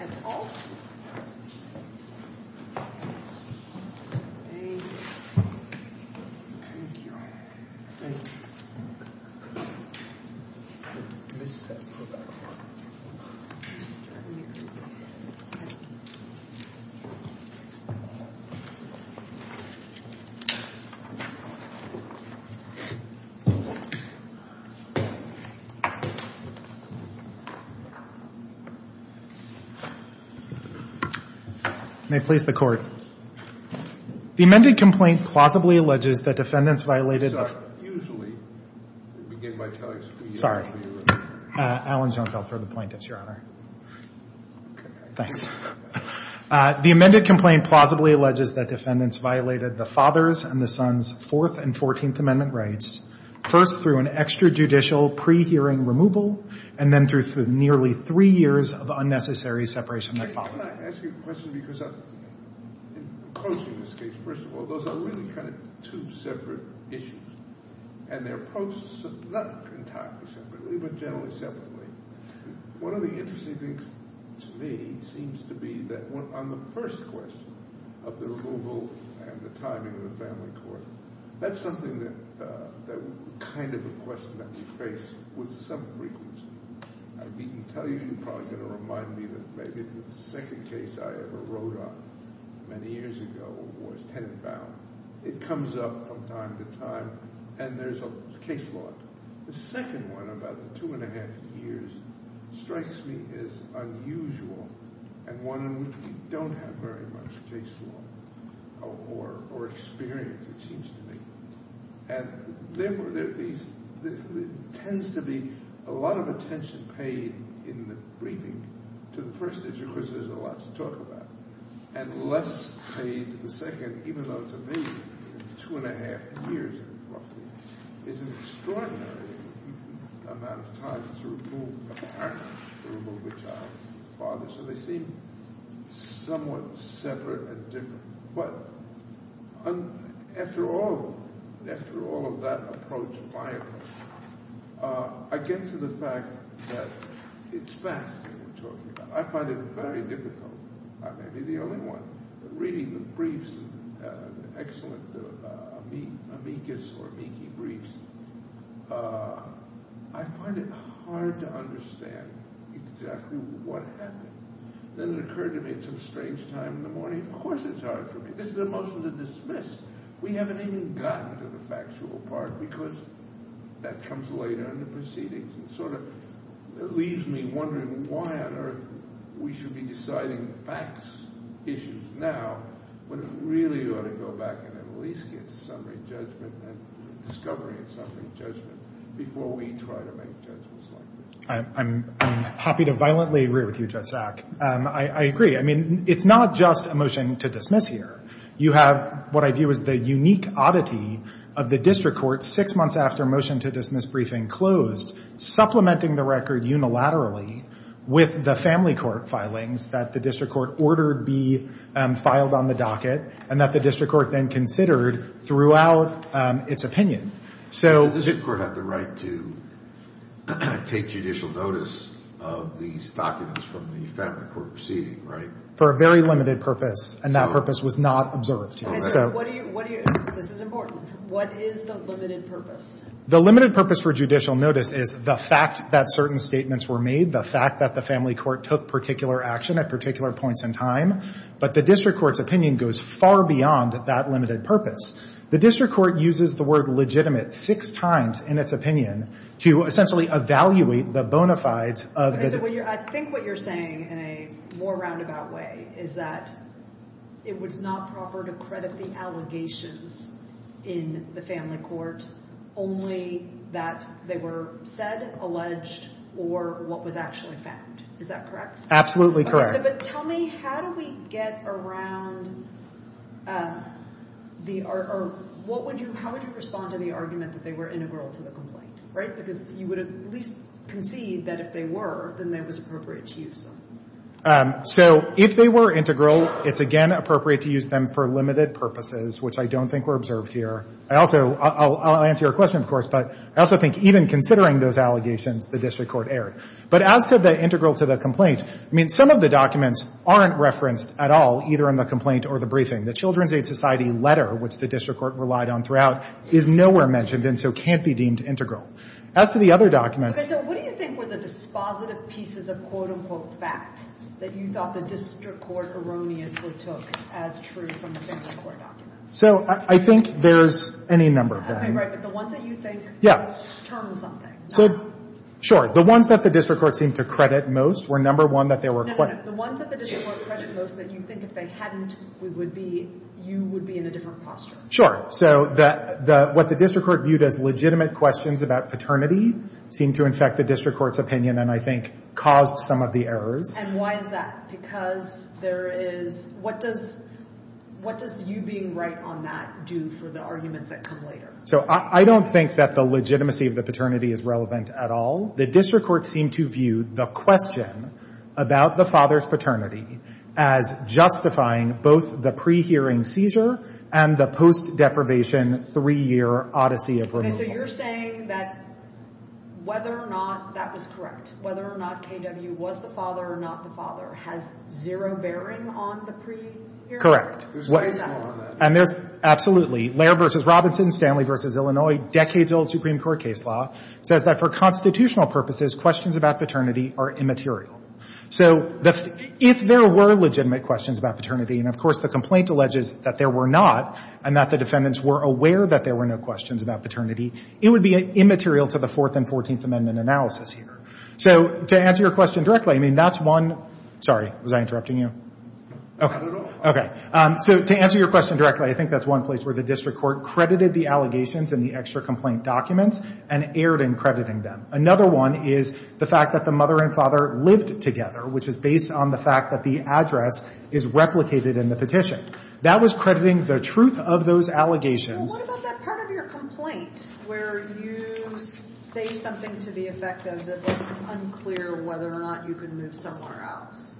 at all. Thank you. Thank you. May it please the Court. The amended complaint plausibly alleges that defendants violated... Sorry. Usually, we begin by telling... Sorry. Alan, don't go through the plaintiffs, Your Honor. Thanks. The amended complaint plausibly alleges that defendants violated the father's and the son's Fourth and Fourteenth Amendment rights, first through an extrajudicial pre-hearing removal, and then through nearly three years of unnecessary separation that followed. Can I ask you a question? Because in closing this case, first of all, those are really kind of two separate issues, and they're approached not entirely separately, but generally separately. One of the interesting things to me seems to be that on the first question of the removal and the timing of the family court, that's something that kind of a question that we face with some frequency. I didn't tell you, you're probably going to remind me that maybe the second case I ever wrote on many years ago was tenant-bound. It comes up from time to time, and there's a case law. The second one, about the two and a half years, strikes me as unusual, and one in which we don't have very much case law or experience, it seems to me. And therefore, there tends to be a lot of attention paid in the briefing to the first issue because there's a lot to talk about. And less paid to the second, even though to me two and a half years, roughly, is an extraordinary amount of time to remove a parent, to remove a child, a father, so they seem somewhat separate and different. But after all of that approach by us, I get to the fact that it's fast that we're talking about. I find it very difficult. I may be the only one. Reading the briefs, the excellent amicus or amici briefs, I find it hard to understand exactly what happened. Then it occurred to me at some strange time in the morning, of course it's hard for me. This is a motion to dismiss. We haven't even gotten to the factual part because that comes later in the proceedings. It sort of leaves me wondering why on earth we should be deciding the facts issues now, but really ought to go back and at least get to summary judgment and discovery in summary judgment before we try to make judgments like this. I'm happy to violently agree with you, Judge Sack. I agree. I mean, it's not just a motion to dismiss here. You have what I view as the unique oddity of the district court six months after motion to dismiss briefing closed, supplementing the record unilaterally with the family court filings that the district court ordered be filed on the docket and that the district court then considered throughout its opinion. The district court had the right to take judicial notice of these documents from the family court proceeding, right? For a very limited purpose, and that purpose was not observed. This is important. What is the limited purpose? The limited purpose for judicial notice is the fact that certain statements were made, the fact that the family court took particular action at particular points in time, but the district court's opinion goes far beyond that limited purpose. The district court uses the word legitimate six times in its opinion to essentially evaluate the bona fides of the— So I think what you're saying in a more roundabout way is that it was not proper to credit the allegations in the family court, only that they were said, alleged, or what was actually found. Is that correct? Absolutely correct. But tell me, how do we get around the—or how would you respond to the argument that they were integral to the complaint, right? Because you would at least concede that if they were, then that was appropriate to use them. So if they were integral, it's, again, appropriate to use them for limited purposes, which I don't think were observed here. I also — I'll answer your question, of course, but I also think even considering those allegations, the district court erred. But as for the integral to the complaint, I mean, some of the documents aren't referenced at all, either in the complaint or the briefing. The Children's Aid Society letter, which the district court relied on throughout, is nowhere mentioned and so can't be deemed integral. As for the other documents— Okay. So what do you think were the dispositive pieces of, quote-unquote, fact that you thought the district court erroneously took as true from the family court documents? So I think there's any number of them. Okay. Right. But the ones that you think— Yeah. —turned something. Sure. The ones that the district court seemed to credit most were, number one, that there were— No, no, no. The ones that the district court credited most that you think if they hadn't, we would be — you would be in a different posture. Sure. So the — what the district court viewed as legitimate questions about paternity seemed to infect the district court's opinion and I think caused some of the errors. And why is that? Because there is — what does — what does you being right on that do for the arguments that come later? So I don't think that the legitimacy of the paternity is relevant at all. The district court seemed to view the question about the father's paternity as justifying both the pre-hearing seizure and the post-deprivation three-year odyssey of removal. Okay. So you're saying that whether or not that was correct, whether or not K.W. was the father or not the father, has zero bearing on the pre-hearing? Correct. Who's responsible on that? And there's — absolutely. Lehrer v. Robinson, Stanley v. Illinois, decades-old Supreme Court case law, says that for constitutional purposes, questions about paternity are immaterial. So if there were legitimate questions about paternity, and of course the complaint alleges that there were not and that the defendants were aware that there were no questions about paternity, it would be immaterial to the Fourth and Fourteenth Amendment analysis here. So to answer your question directly, I mean, that's one — sorry, was I interrupting you? Okay. So to answer your question directly, I think that's one place where the district court credited the allegations and the extra complaint documents and erred in crediting them. Another one is the fact that the mother and father lived together, which is based on the fact that the address is replicated in the petition. That was crediting the truth of those allegations. Well, what about that part of your complaint where you say something to the effect of that it's unclear whether or not you could move somewhere else?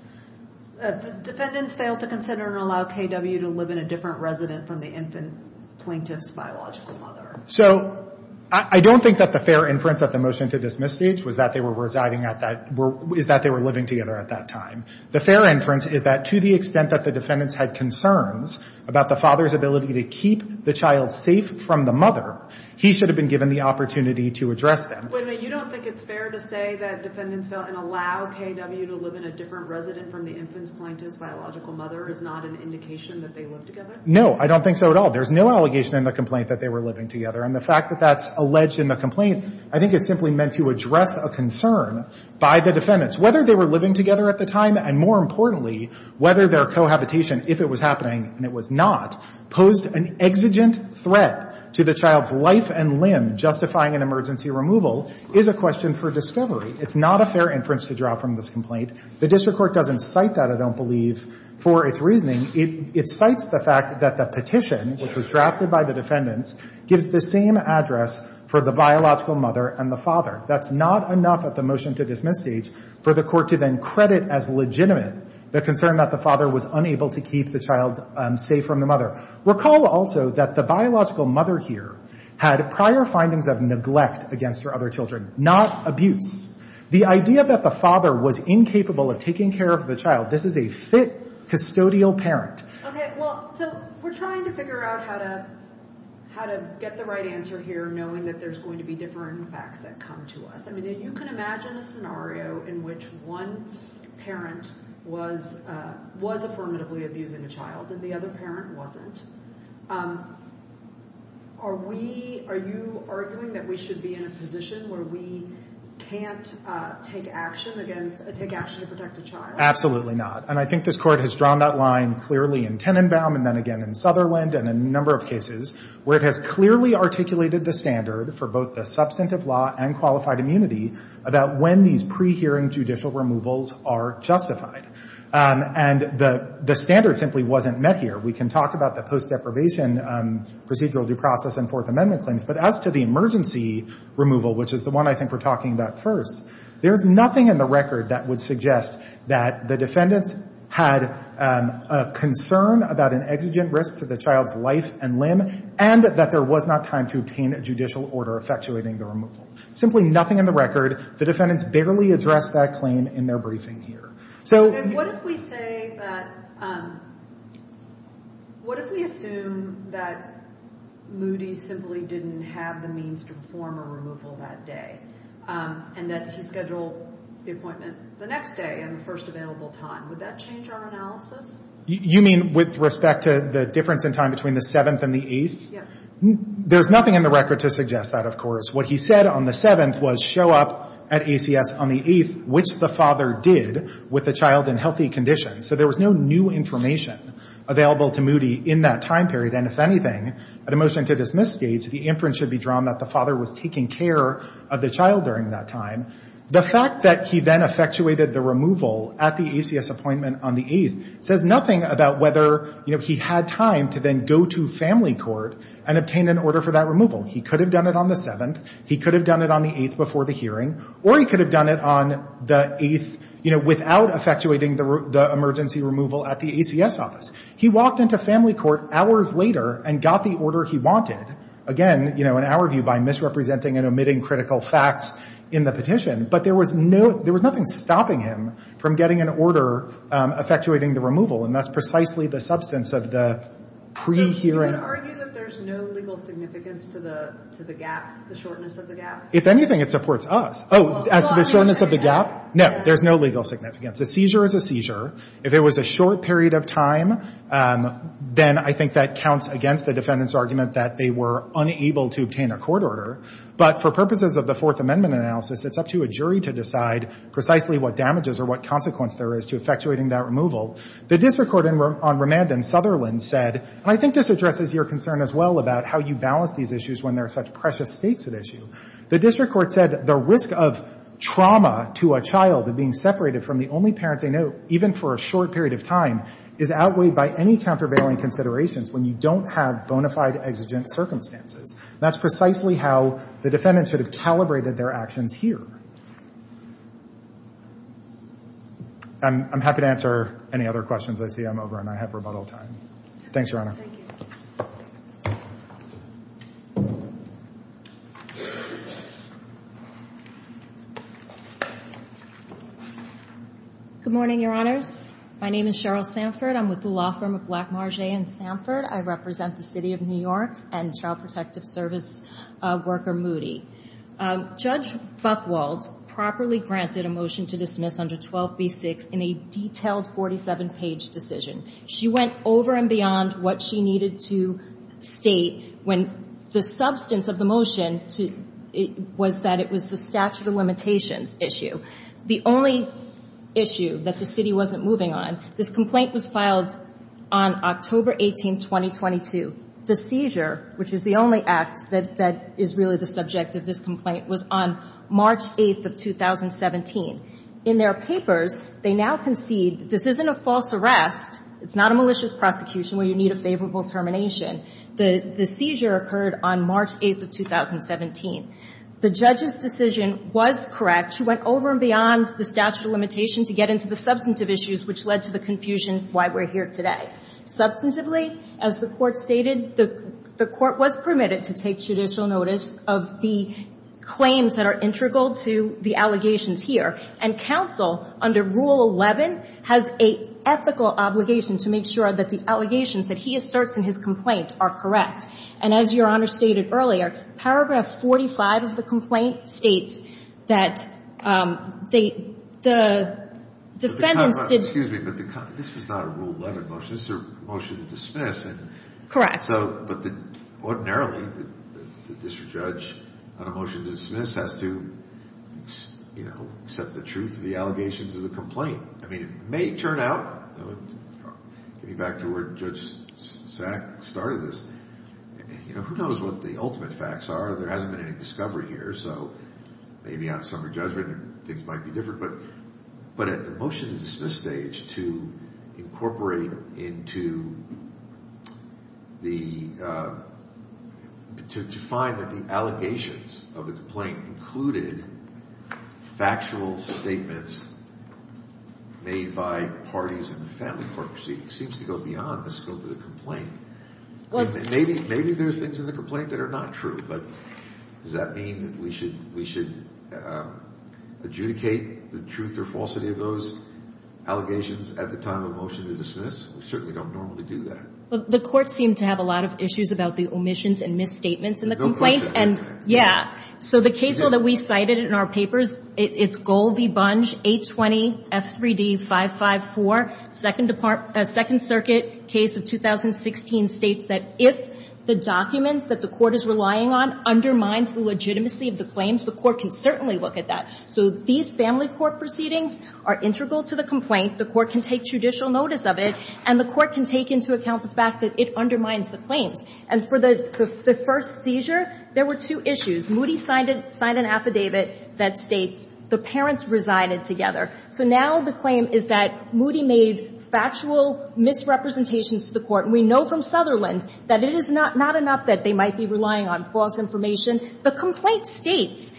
The defendants failed to consider and allow K.W. to live in a different resident from the infant plaintiff's biological mother. So I don't think that the fair inference at the motion to dismiss stage was that they were residing at that — is that they were living together at that time. The fair inference is that to the extent that the defendants had concerns about the father's ability to keep the child safe from the mother, he should have been given the opportunity to address them. Wait a minute. You don't think it's fair to say that defendants failed and allow K.W. to live in a different resident from the infant's plaintiff's biological mother is not an indication that they lived together? No. I don't think so at all. There's no allegation in the complaint that they were living together. And the fact that that's alleged in the complaint I think is simply meant to address a concern by the defendants. Whether they were living together at the time and, more importantly, whether their cohabitation, if it was happening and it was not, posed an exigent threat to the child's life and limb justifying an emergency removal is a question for discovery. It's not a fair inference to draw from this complaint. The district court doesn't cite that, I don't believe, for its reasoning. It cites the fact that the petition, which was drafted by the defendants, gives the same address for the biological mother and the father. That's not enough at the motion to dismiss stage for the court to then credit as legitimate the concern that the father was unable to keep the child safe from the Recall also that the biological mother here had prior findings of neglect against her other children, not abuse. The idea that the father was incapable of taking care of the child, this is a fit custodial parent. Okay. Well, so we're trying to figure out how to get the right answer here knowing that there's going to be different facts that come to us. I mean, you can imagine a scenario in which one parent was affirmatively abusing a child and the other parent wasn't. Are we, are you arguing that we should be in a position where we can't take action against, take action to protect a child? Absolutely not. And I think this court has drawn that line clearly in Tenenbaum and then again in Sutherland and a number of cases where it has clearly articulated the standard for both the substantive law and qualified immunity about when these pre-hearing judicial removals are justified. And the standard simply wasn't met here. We can talk about the post-deprivation procedural due process and Fourth Amendment claims, but as to the emergency removal, which is the one I think we're talking about first, there's nothing in the record that would suggest that the defendants had a concern about an exigent risk to the child's life and limb and that there was not time to obtain a judicial order effectuating the removal. Simply nothing in the record. The defendants barely addressed that claim in their briefing here. And what if we say that, what if we assume that Moody simply didn't have the means to perform a removal that day and that he scheduled the appointment the next day and the first available time? Would that change our analysis? You mean with respect to the difference in time between the 7th and the 8th? Yeah. There's nothing in the record to suggest that, of course. What he said on the 7th was, show up at ACS on the 8th, which the father did with the child in healthy condition. So there was no new information available to Moody in that time period. And if anything, at a motion to dismiss stage, the inference should be drawn that the father was taking care of the child during that time. The fact that he then effectuated the removal at the ACS appointment on the 8th says nothing about whether he had time to then go to family court and obtain an order for that removal. He could have done it on the 7th. He could have done it on the 8th before the hearing. Or he could have done it on the 8th without effectuating the emergency removal at the ACS office. He walked into family court hours later and got the order he wanted. Again, in our view, by misrepresenting and omitting critical facts in the petition. But there was nothing stopping him from getting an order effectuating the removal. And that's precisely the substance of the pre-hearing. So you would argue that there's no legal significance to the gap, the shortness of the gap? If anything, it supports us. Oh, as to the shortness of the gap? No, there's no legal significance. A seizure is a seizure. If it was a short period of time, then I think that counts against the defendant's argument that they were unable to obtain a court order. But for purposes of the Fourth Amendment analysis, it's up to a jury to decide precisely what damages or what consequence there is to effectuating that removal. The district court on remand in Sutherland said, and I think this addresses your concern as well about how you balance these issues when there are such precious stakes at issue. The district court said the risk of trauma to a child, of being separated from the only parent they know, even for a short period of time is outweighed by any countervailing considerations when you don't have bona fide exigent circumstances. That's precisely how the defendant should have calibrated their actions here. I'm happy to answer any other questions. I see I'm over and I have rebuttal time. Thanks, Your Honor. Thank you. Good morning, Your Honors. My name is Cheryl Sanford. I'm with the law firm of Black Marger and Sanford. I represent the city of New York and child protective service worker Moody. Judge Buchwald properly granted a motion to dismiss under 12b-6 in a detailed 47-page decision. She went over and beyond what she needed to state when the substance of the motion was that it was the statute of limitations issue, the only issue that the city wasn't moving on. This complaint was filed on October 18th, 2022. The seizure, which is the only act that is really the subject of this complaint, was on March 8th of 2017. In their papers, they now concede this isn't a false arrest. It's not a malicious prosecution where you need a favorable termination. The seizure occurred on March 8th of 2017. The judge's decision was correct. She went over and beyond the statute of limitations to get into the substantive issues, which led to the confusion why we're here today. Substantively, as the Court stated, the Court was permitted to take judicial notice of the claims that are integral to the allegations here. And counsel, under Rule 11, has an ethical obligation to make sure that the allegations that he asserts in his complaint are correct. And as Your Honor stated earlier, paragraph 45 of the complaint states that the defendants did- Excuse me, but this was not a Rule 11 motion. This is a motion to dismiss. Correct. But ordinarily, the district judge on a motion to dismiss has to accept the truth of the allegations of the complaint. I mean, it may turn out, getting back to where Judge Sack started this, who knows what the ultimate facts are. There hasn't been any discovery here. So maybe on summary judgment things might be different. But at the motion to dismiss stage, to incorporate into the- to find that the allegations of the complaint included factual statements made by parties in the family court proceedings seems to go beyond the scope of the complaint. Maybe there are things in the complaint that are not true, but does that mean that we should adjudicate the truth or falsity of those allegations at the time of motion to dismiss? We certainly don't normally do that. The court seemed to have a lot of issues about the omissions and misstatements in the complaint. Yeah. So the case law that we cited in our papers, it's Gold v. Bunge, 820 F3D 554, Second Circuit case of 2016 states that if the documents that the court is relying on undermines the legitimacy of the claims, the court can certainly look at that. So these family court proceedings are integral to the complaint. The court can take judicial notice of it, and the court can take into account the fact that it undermines the claims. And for the first seizure, there were two issues. Moody signed an affidavit that states the parents resided together. So now the claim is that Moody made factual misrepresentations to the court. And we know from Sutherland that it is not enough that they might be relying on false information. The complaint states,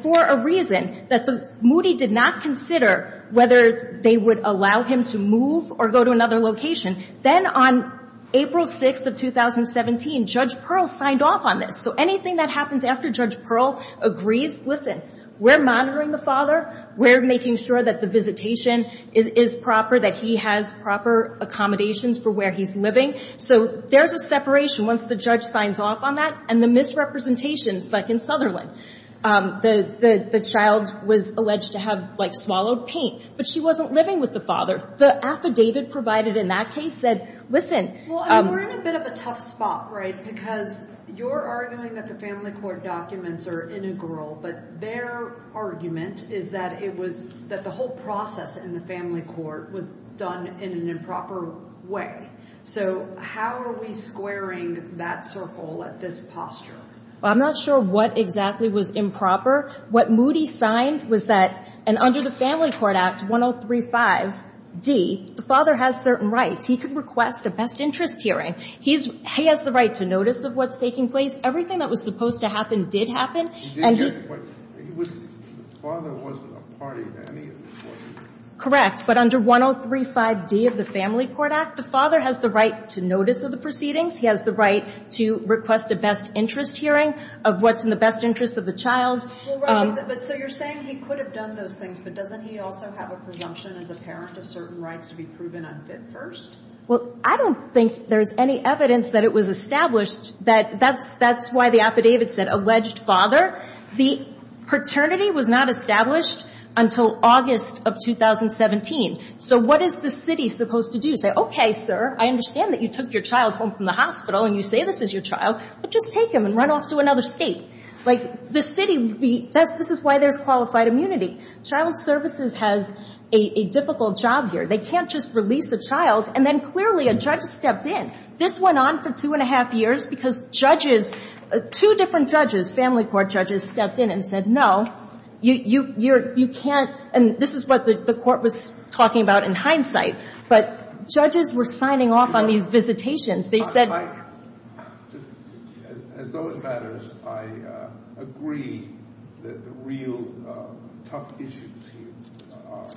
for a reason, that Moody did not consider whether they would allow him to move or go to another location. Then on April 6th of 2017, Judge Pearl signed off on this. So anything that happens after Judge Pearl agrees, listen, we're monitoring the father. We're making sure that the visitation is proper, that he has proper accommodations for where he's living. So there's a separation once the judge signs off on that. And the misrepresentations, like in Sutherland, the child was alleged to have, like, swallowed paint, but she wasn't living with the father. The affidavit provided in that case said, listen. Well, we're in a bit of a tough spot, right, because you're arguing that the family court documents are integral, but their argument is that it was that the whole process in the family court was done in an improper way. So how are we squaring that circle at this posture? Well, I'm not sure what exactly was improper. What Moody signed was that under the Family Court Act 1035d, the father has certain rights. He could request a best interest hearing. He has the right to notice of what's taking place. Everything that was supposed to happen did happen. The father wasn't a part of any of this, was he? Correct. But under 1035d of the Family Court Act, the father has the right to notice of the proceedings. He has the right to request a best interest hearing of what's in the best interest of the child. Well, right, but so you're saying he could have done those things, but doesn't he also have a presumption as a parent of certain rights to be proven unfit first? Well, I don't think there's any evidence that it was established that that's why the affidavit said alleged father. The paternity was not established until August of 2017. So what is the city supposed to do? Say, okay, sir, I understand that you took your child home from the hospital and you say this is your child, but just take him and run off to another state. Like, the city would be – this is why there's qualified immunity. Child services has a difficult job here. They can't just release a child, and then clearly a judge stepped in. This went on for two and a half years because judges, two different judges, family court judges, stepped in and said, no, you can't – and this is what the court was talking about in hindsight. But judges were signing off on these visitations. They said – As those matters, I agree that the real tough issues here are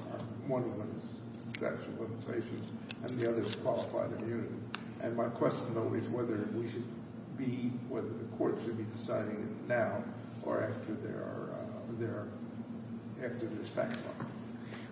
one of them is sexual limitations and the other is qualified immunity. And my question, though, is whether we should be – whether the court should be deciding now or after their statute.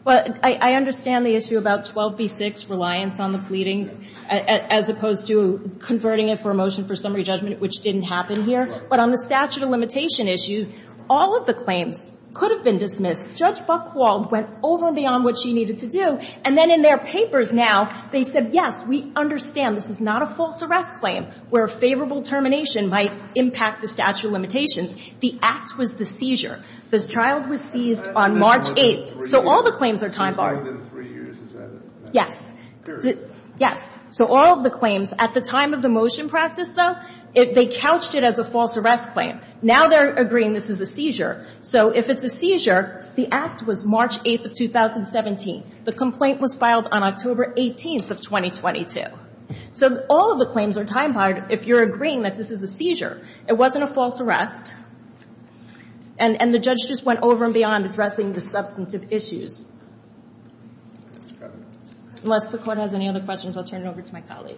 Well, I understand the issue about 12b-6 reliance on the pleadings as opposed to converting it for a motion for summary judgment, which didn't happen here. But on the statute of limitation issue, all of the claims could have been dismissed. Judge Buchwald went over and beyond what she needed to do. And then in their papers now, they said, yes, we understand this is not a false arrest claim where a favorable termination might impact the statute of limitations. The act was the seizure. The child was seized on March 8th. So all the claims are time barred. It's more than three years, is that it? Yes. Period. Yes. So all of the claims at the time of the motion practice, though, they couched it as a false arrest claim. Now they're agreeing this is a seizure. So if it's a seizure, the act was March 8th of 2017. The complaint was filed on October 18th of 2022. So all of the claims are time barred if you're agreeing that this is a seizure. It wasn't a false arrest. And the judge just went over and beyond addressing the substantive issues. Unless the Court has any other questions, I'll turn it over to my colleague.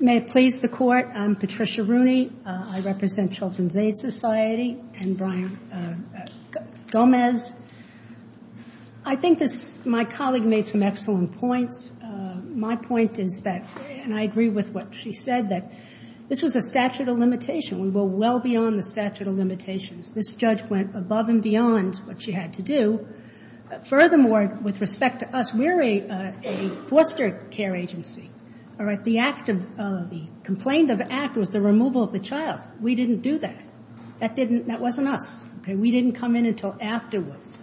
May it please the Court. I'm Patricia Rooney. I represent Children's Aid Society and Brian Gomez. I think my colleague made some excellent points. My point is that, and I agree with what she said, that this was a statute of limitation. We were well beyond the statute of limitations. This judge went above and beyond what she had to do. Furthermore, with respect to us, we're a foster care agency. All right? The complaint of the act was the removal of the child. We didn't do that. That wasn't us. Okay? We didn't come in until afterwards.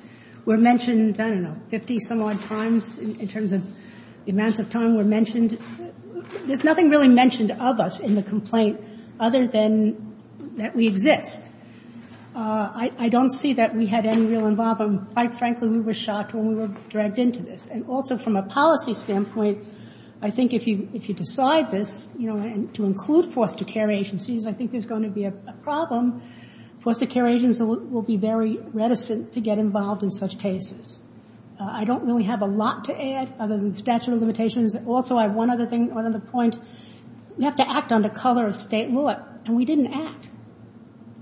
We're mentioned, I don't know, 50-some-odd times in terms of the amounts of time we're mentioned. There's nothing really mentioned of us in the complaint other than that we exist. I don't see that we had any real involvement. Quite frankly, we were shocked when we were dragged into this. And also from a policy standpoint, I think if you decide this, you know, and to include foster care agencies, I think there's going to be a problem. Foster care agents will be very reticent to get involved in such cases. I don't really have a lot to add other than statute of limitations. Also, I have one other thing, one other point. You have to act under color of state law, and we didn't act,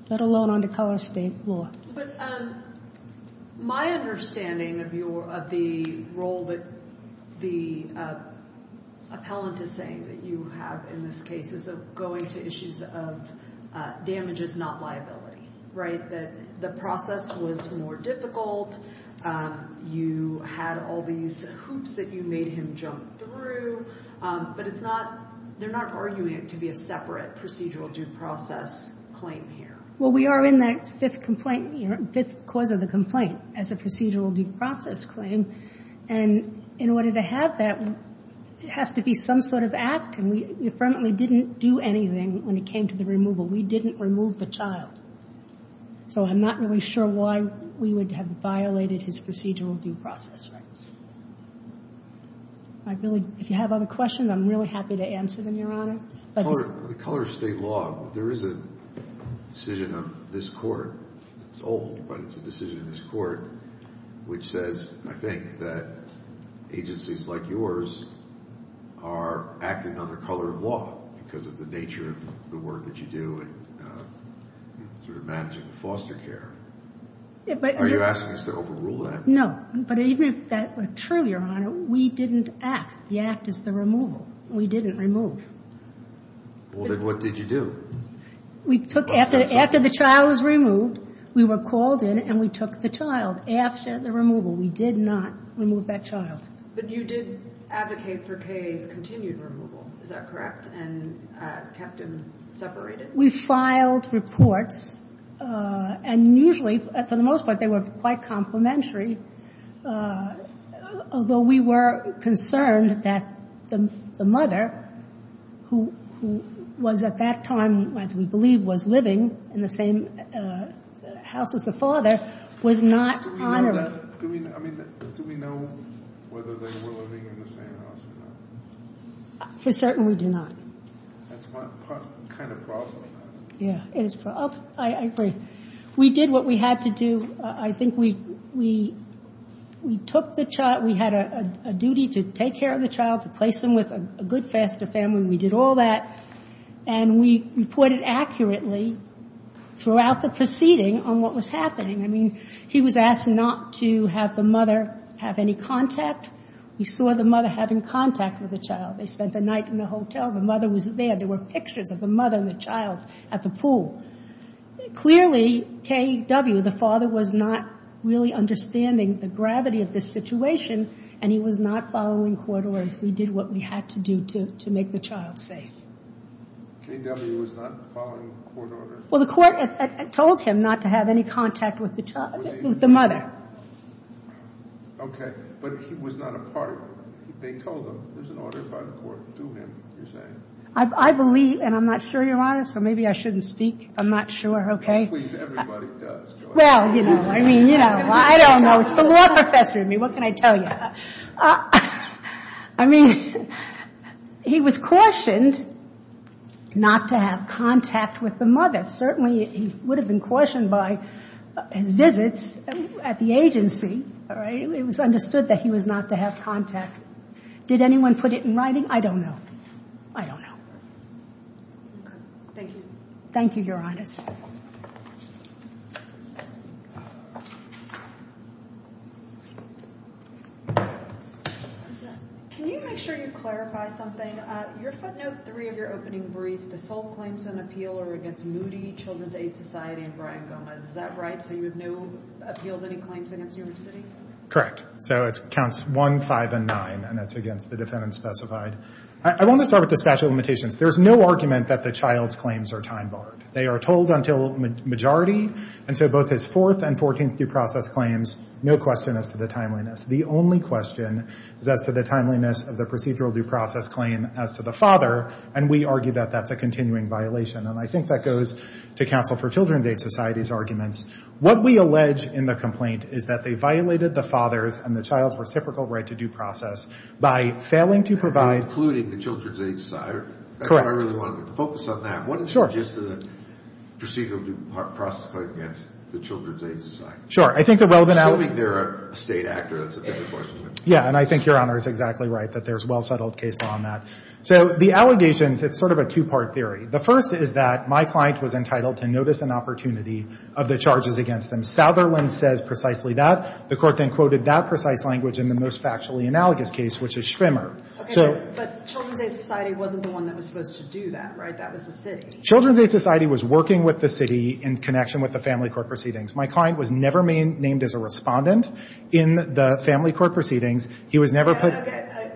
let alone under color of state law. But my understanding of the role that the appellant is saying that you have in this case is going to issues of damages, not liability, right? That the process was more difficult. You had all these hoops that you made him jump through. But it's not, they're not arguing it to be a separate procedural due process claim here. Well, we are in that fifth cause of the complaint as a procedural due process claim. And in order to have that, it has to be some sort of act. And we affirmantly didn't do anything when it came to the removal. We didn't remove the child. So I'm not really sure why we would have violated his procedural due process rights. If you have other questions, I'm really happy to answer them, Your Honor. The color of state law, there is a decision of this court. It's old, but it's a decision of this court which says, I think, that agencies like yours are acting under color of law because of the nature of the work that you do in sort of managing the foster care. Are you asking us to overrule that? No. But even if that were true, Your Honor, we didn't act. The act is the removal. We didn't remove. Well, then what did you do? After the child was removed, we were called in and we took the child. After the removal, we did not remove that child. But you did advocate for K.A.'s continued removal. Is that correct? And kept him separated? We filed reports. And usually, for the most part, they were quite complimentary, although we were concerned that the mother, who was at that time, as we believe, was living in the same house as the father, was not honored. Do we know whether they were living in the same house or not? For certain, we do not. That's my kind of problem. Yeah, it is. I agree. We did what we had to do. I think we took the child. We had a duty to take care of the child, to place him with a good, faster family. We did all that. And we reported accurately throughout the proceeding on what was happening. I mean, he was asked not to have the mother have any contact. We saw the mother having contact with the child. They spent the night in the hotel. The mother was there. There were pictures of the mother and the child at the pool. Clearly, K.W., the father, was not really understanding the gravity of this situation, and he was not following court orders. We did what we had to do to make the child safe. K.W. was not following court orders? Well, the court told him not to have any contact with the mother. Okay. But he was not a part of it. They told him. There's an order by the court to him, you're saying. I believe, and I'm not sure, Your Honor, so maybe I shouldn't speak. I'm not sure. Please, everybody does, Your Honor. Well, you know, I mean, you know, I don't know. It's the law professor in me. What can I tell you? I mean, he was cautioned not to have contact with the mother. Certainly, he would have been cautioned by his visits at the agency. It was understood that he was not to have contact. Did anyone put it in writing? I don't know. Okay. Thank you. Thank you, Your Honor. Can you make sure you clarify something? Your front note three of your opening brief, the sole claims and appeal are against Moody Children's Aid Society and Brian Gomez. Is that right? So you have no appeal of any claims against New York City? Correct. So it counts one, five, and nine, and that's against the defendant specified. I want to start with the statute of limitations. There's no argument that the child's claims are time barred. They are told until majority, and so both his fourth and fourteenth due process claims, no question as to the timeliness. The only question is as to the timeliness of the procedural due process claim as to the father, and we argue that that's a continuing violation, and I think that goes to Counsel for Children's Aid Society's arguments. What we allege in the complaint is that they violated the father's and the child's reciprocal right to due process by failing to provide Including the Children's Aid Society? Correct. I really want to focus on that. Sure. What is the gist of the procedural due process claim against the Children's Aid Society? Sure. I think the relevant element Assuming they're a state actor, that's a different question. Yeah, and I think Your Honor is exactly right that there's well-settled case law on that. So the allegations, it's sort of a two-part theory. The first is that my client was entitled to notice an opportunity of the charges against them. Southerland says precisely that. The court then quoted that precise language in the most factually analogous case, which is Schwimmer. Okay, but Children's Aid Society wasn't the one that was supposed to do that, right? That was the city. Children's Aid Society was working with the city in connection with the family court proceedings. My client was never named as a respondent in the family court proceedings. He was never put Okay, okay.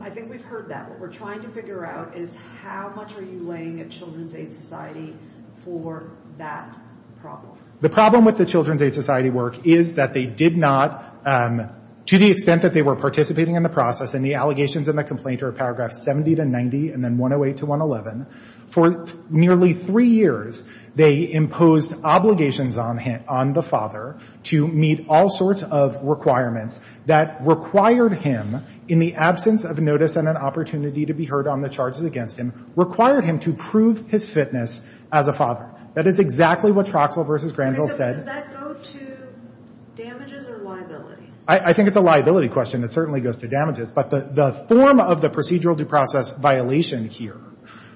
I think we've heard that. What we're trying to figure out is how much are you laying at Children's Aid Society for that problem? The problem with the Children's Aid Society work is that they did not, to the extent that they were participating in the process, and the allegations in the complaint are paragraphs 70 to 90 and then 108 to 111. For nearly three years, they imposed obligations on him, on the father, to meet all sorts of requirements that required him, in the absence of notice and an opportunity to be heard on the charges against him, required him to prove his fitness as a father. That is exactly what Troxell v. Granville said. Does that go to damages or liability? I think it's a liability question. It certainly goes to damages. But the form of the procedural due process violation here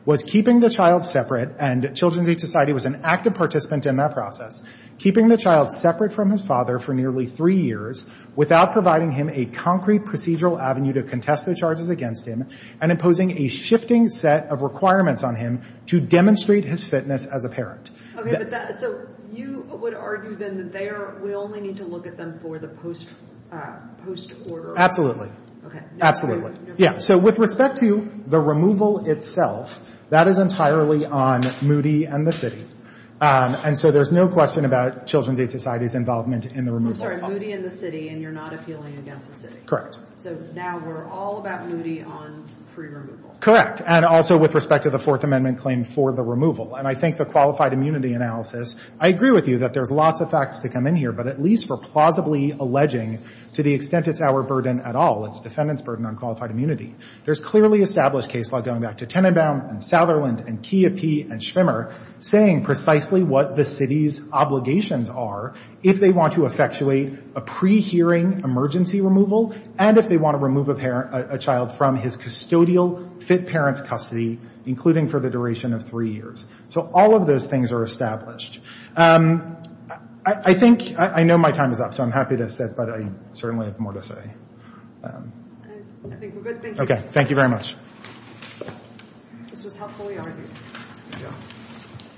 was keeping the child separate, and Children's Aid Society was an active participant in that process, keeping the child separate from his father for nearly three years without providing him a concrete procedural avenue to contest the charges against him and imposing a shifting set of requirements on him to demonstrate his fitness as a parent. Okay. So you would argue then that we only need to look at them for the post-order? Absolutely. Okay. Absolutely. Yeah. So with respect to the removal itself, that is entirely on Moody and the city. And so there's no question about Children's Aid Society's involvement in the removal. I'm sorry. Moody and the city, and you're not appealing against the city. Correct. So now we're all about Moody on pre-removal. Correct. And also with respect to the Fourth Amendment claim for the removal. And I think the qualified immunity analysis, I agree with you that there's lots of facts to come in here, but at least we're plausibly alleging to the extent it's our burden at all, it's defendants' burden on qualified immunity. There's clearly established case law going back to Tenenbaum and Sutherland and Chiappi and Schwimmer saying precisely what the city's obligations are if they want to effectuate a pre-hearing emergency removal and if they want to remove a child from his custodial fit parent's custody, including for the duration of three years. So all of those things are established. I think – I know my time is up, so I'm happy to sit, but I certainly have more to say. I think we're good. Thank you. Okay. Thank you very much. This was helpfully argued. Thank you.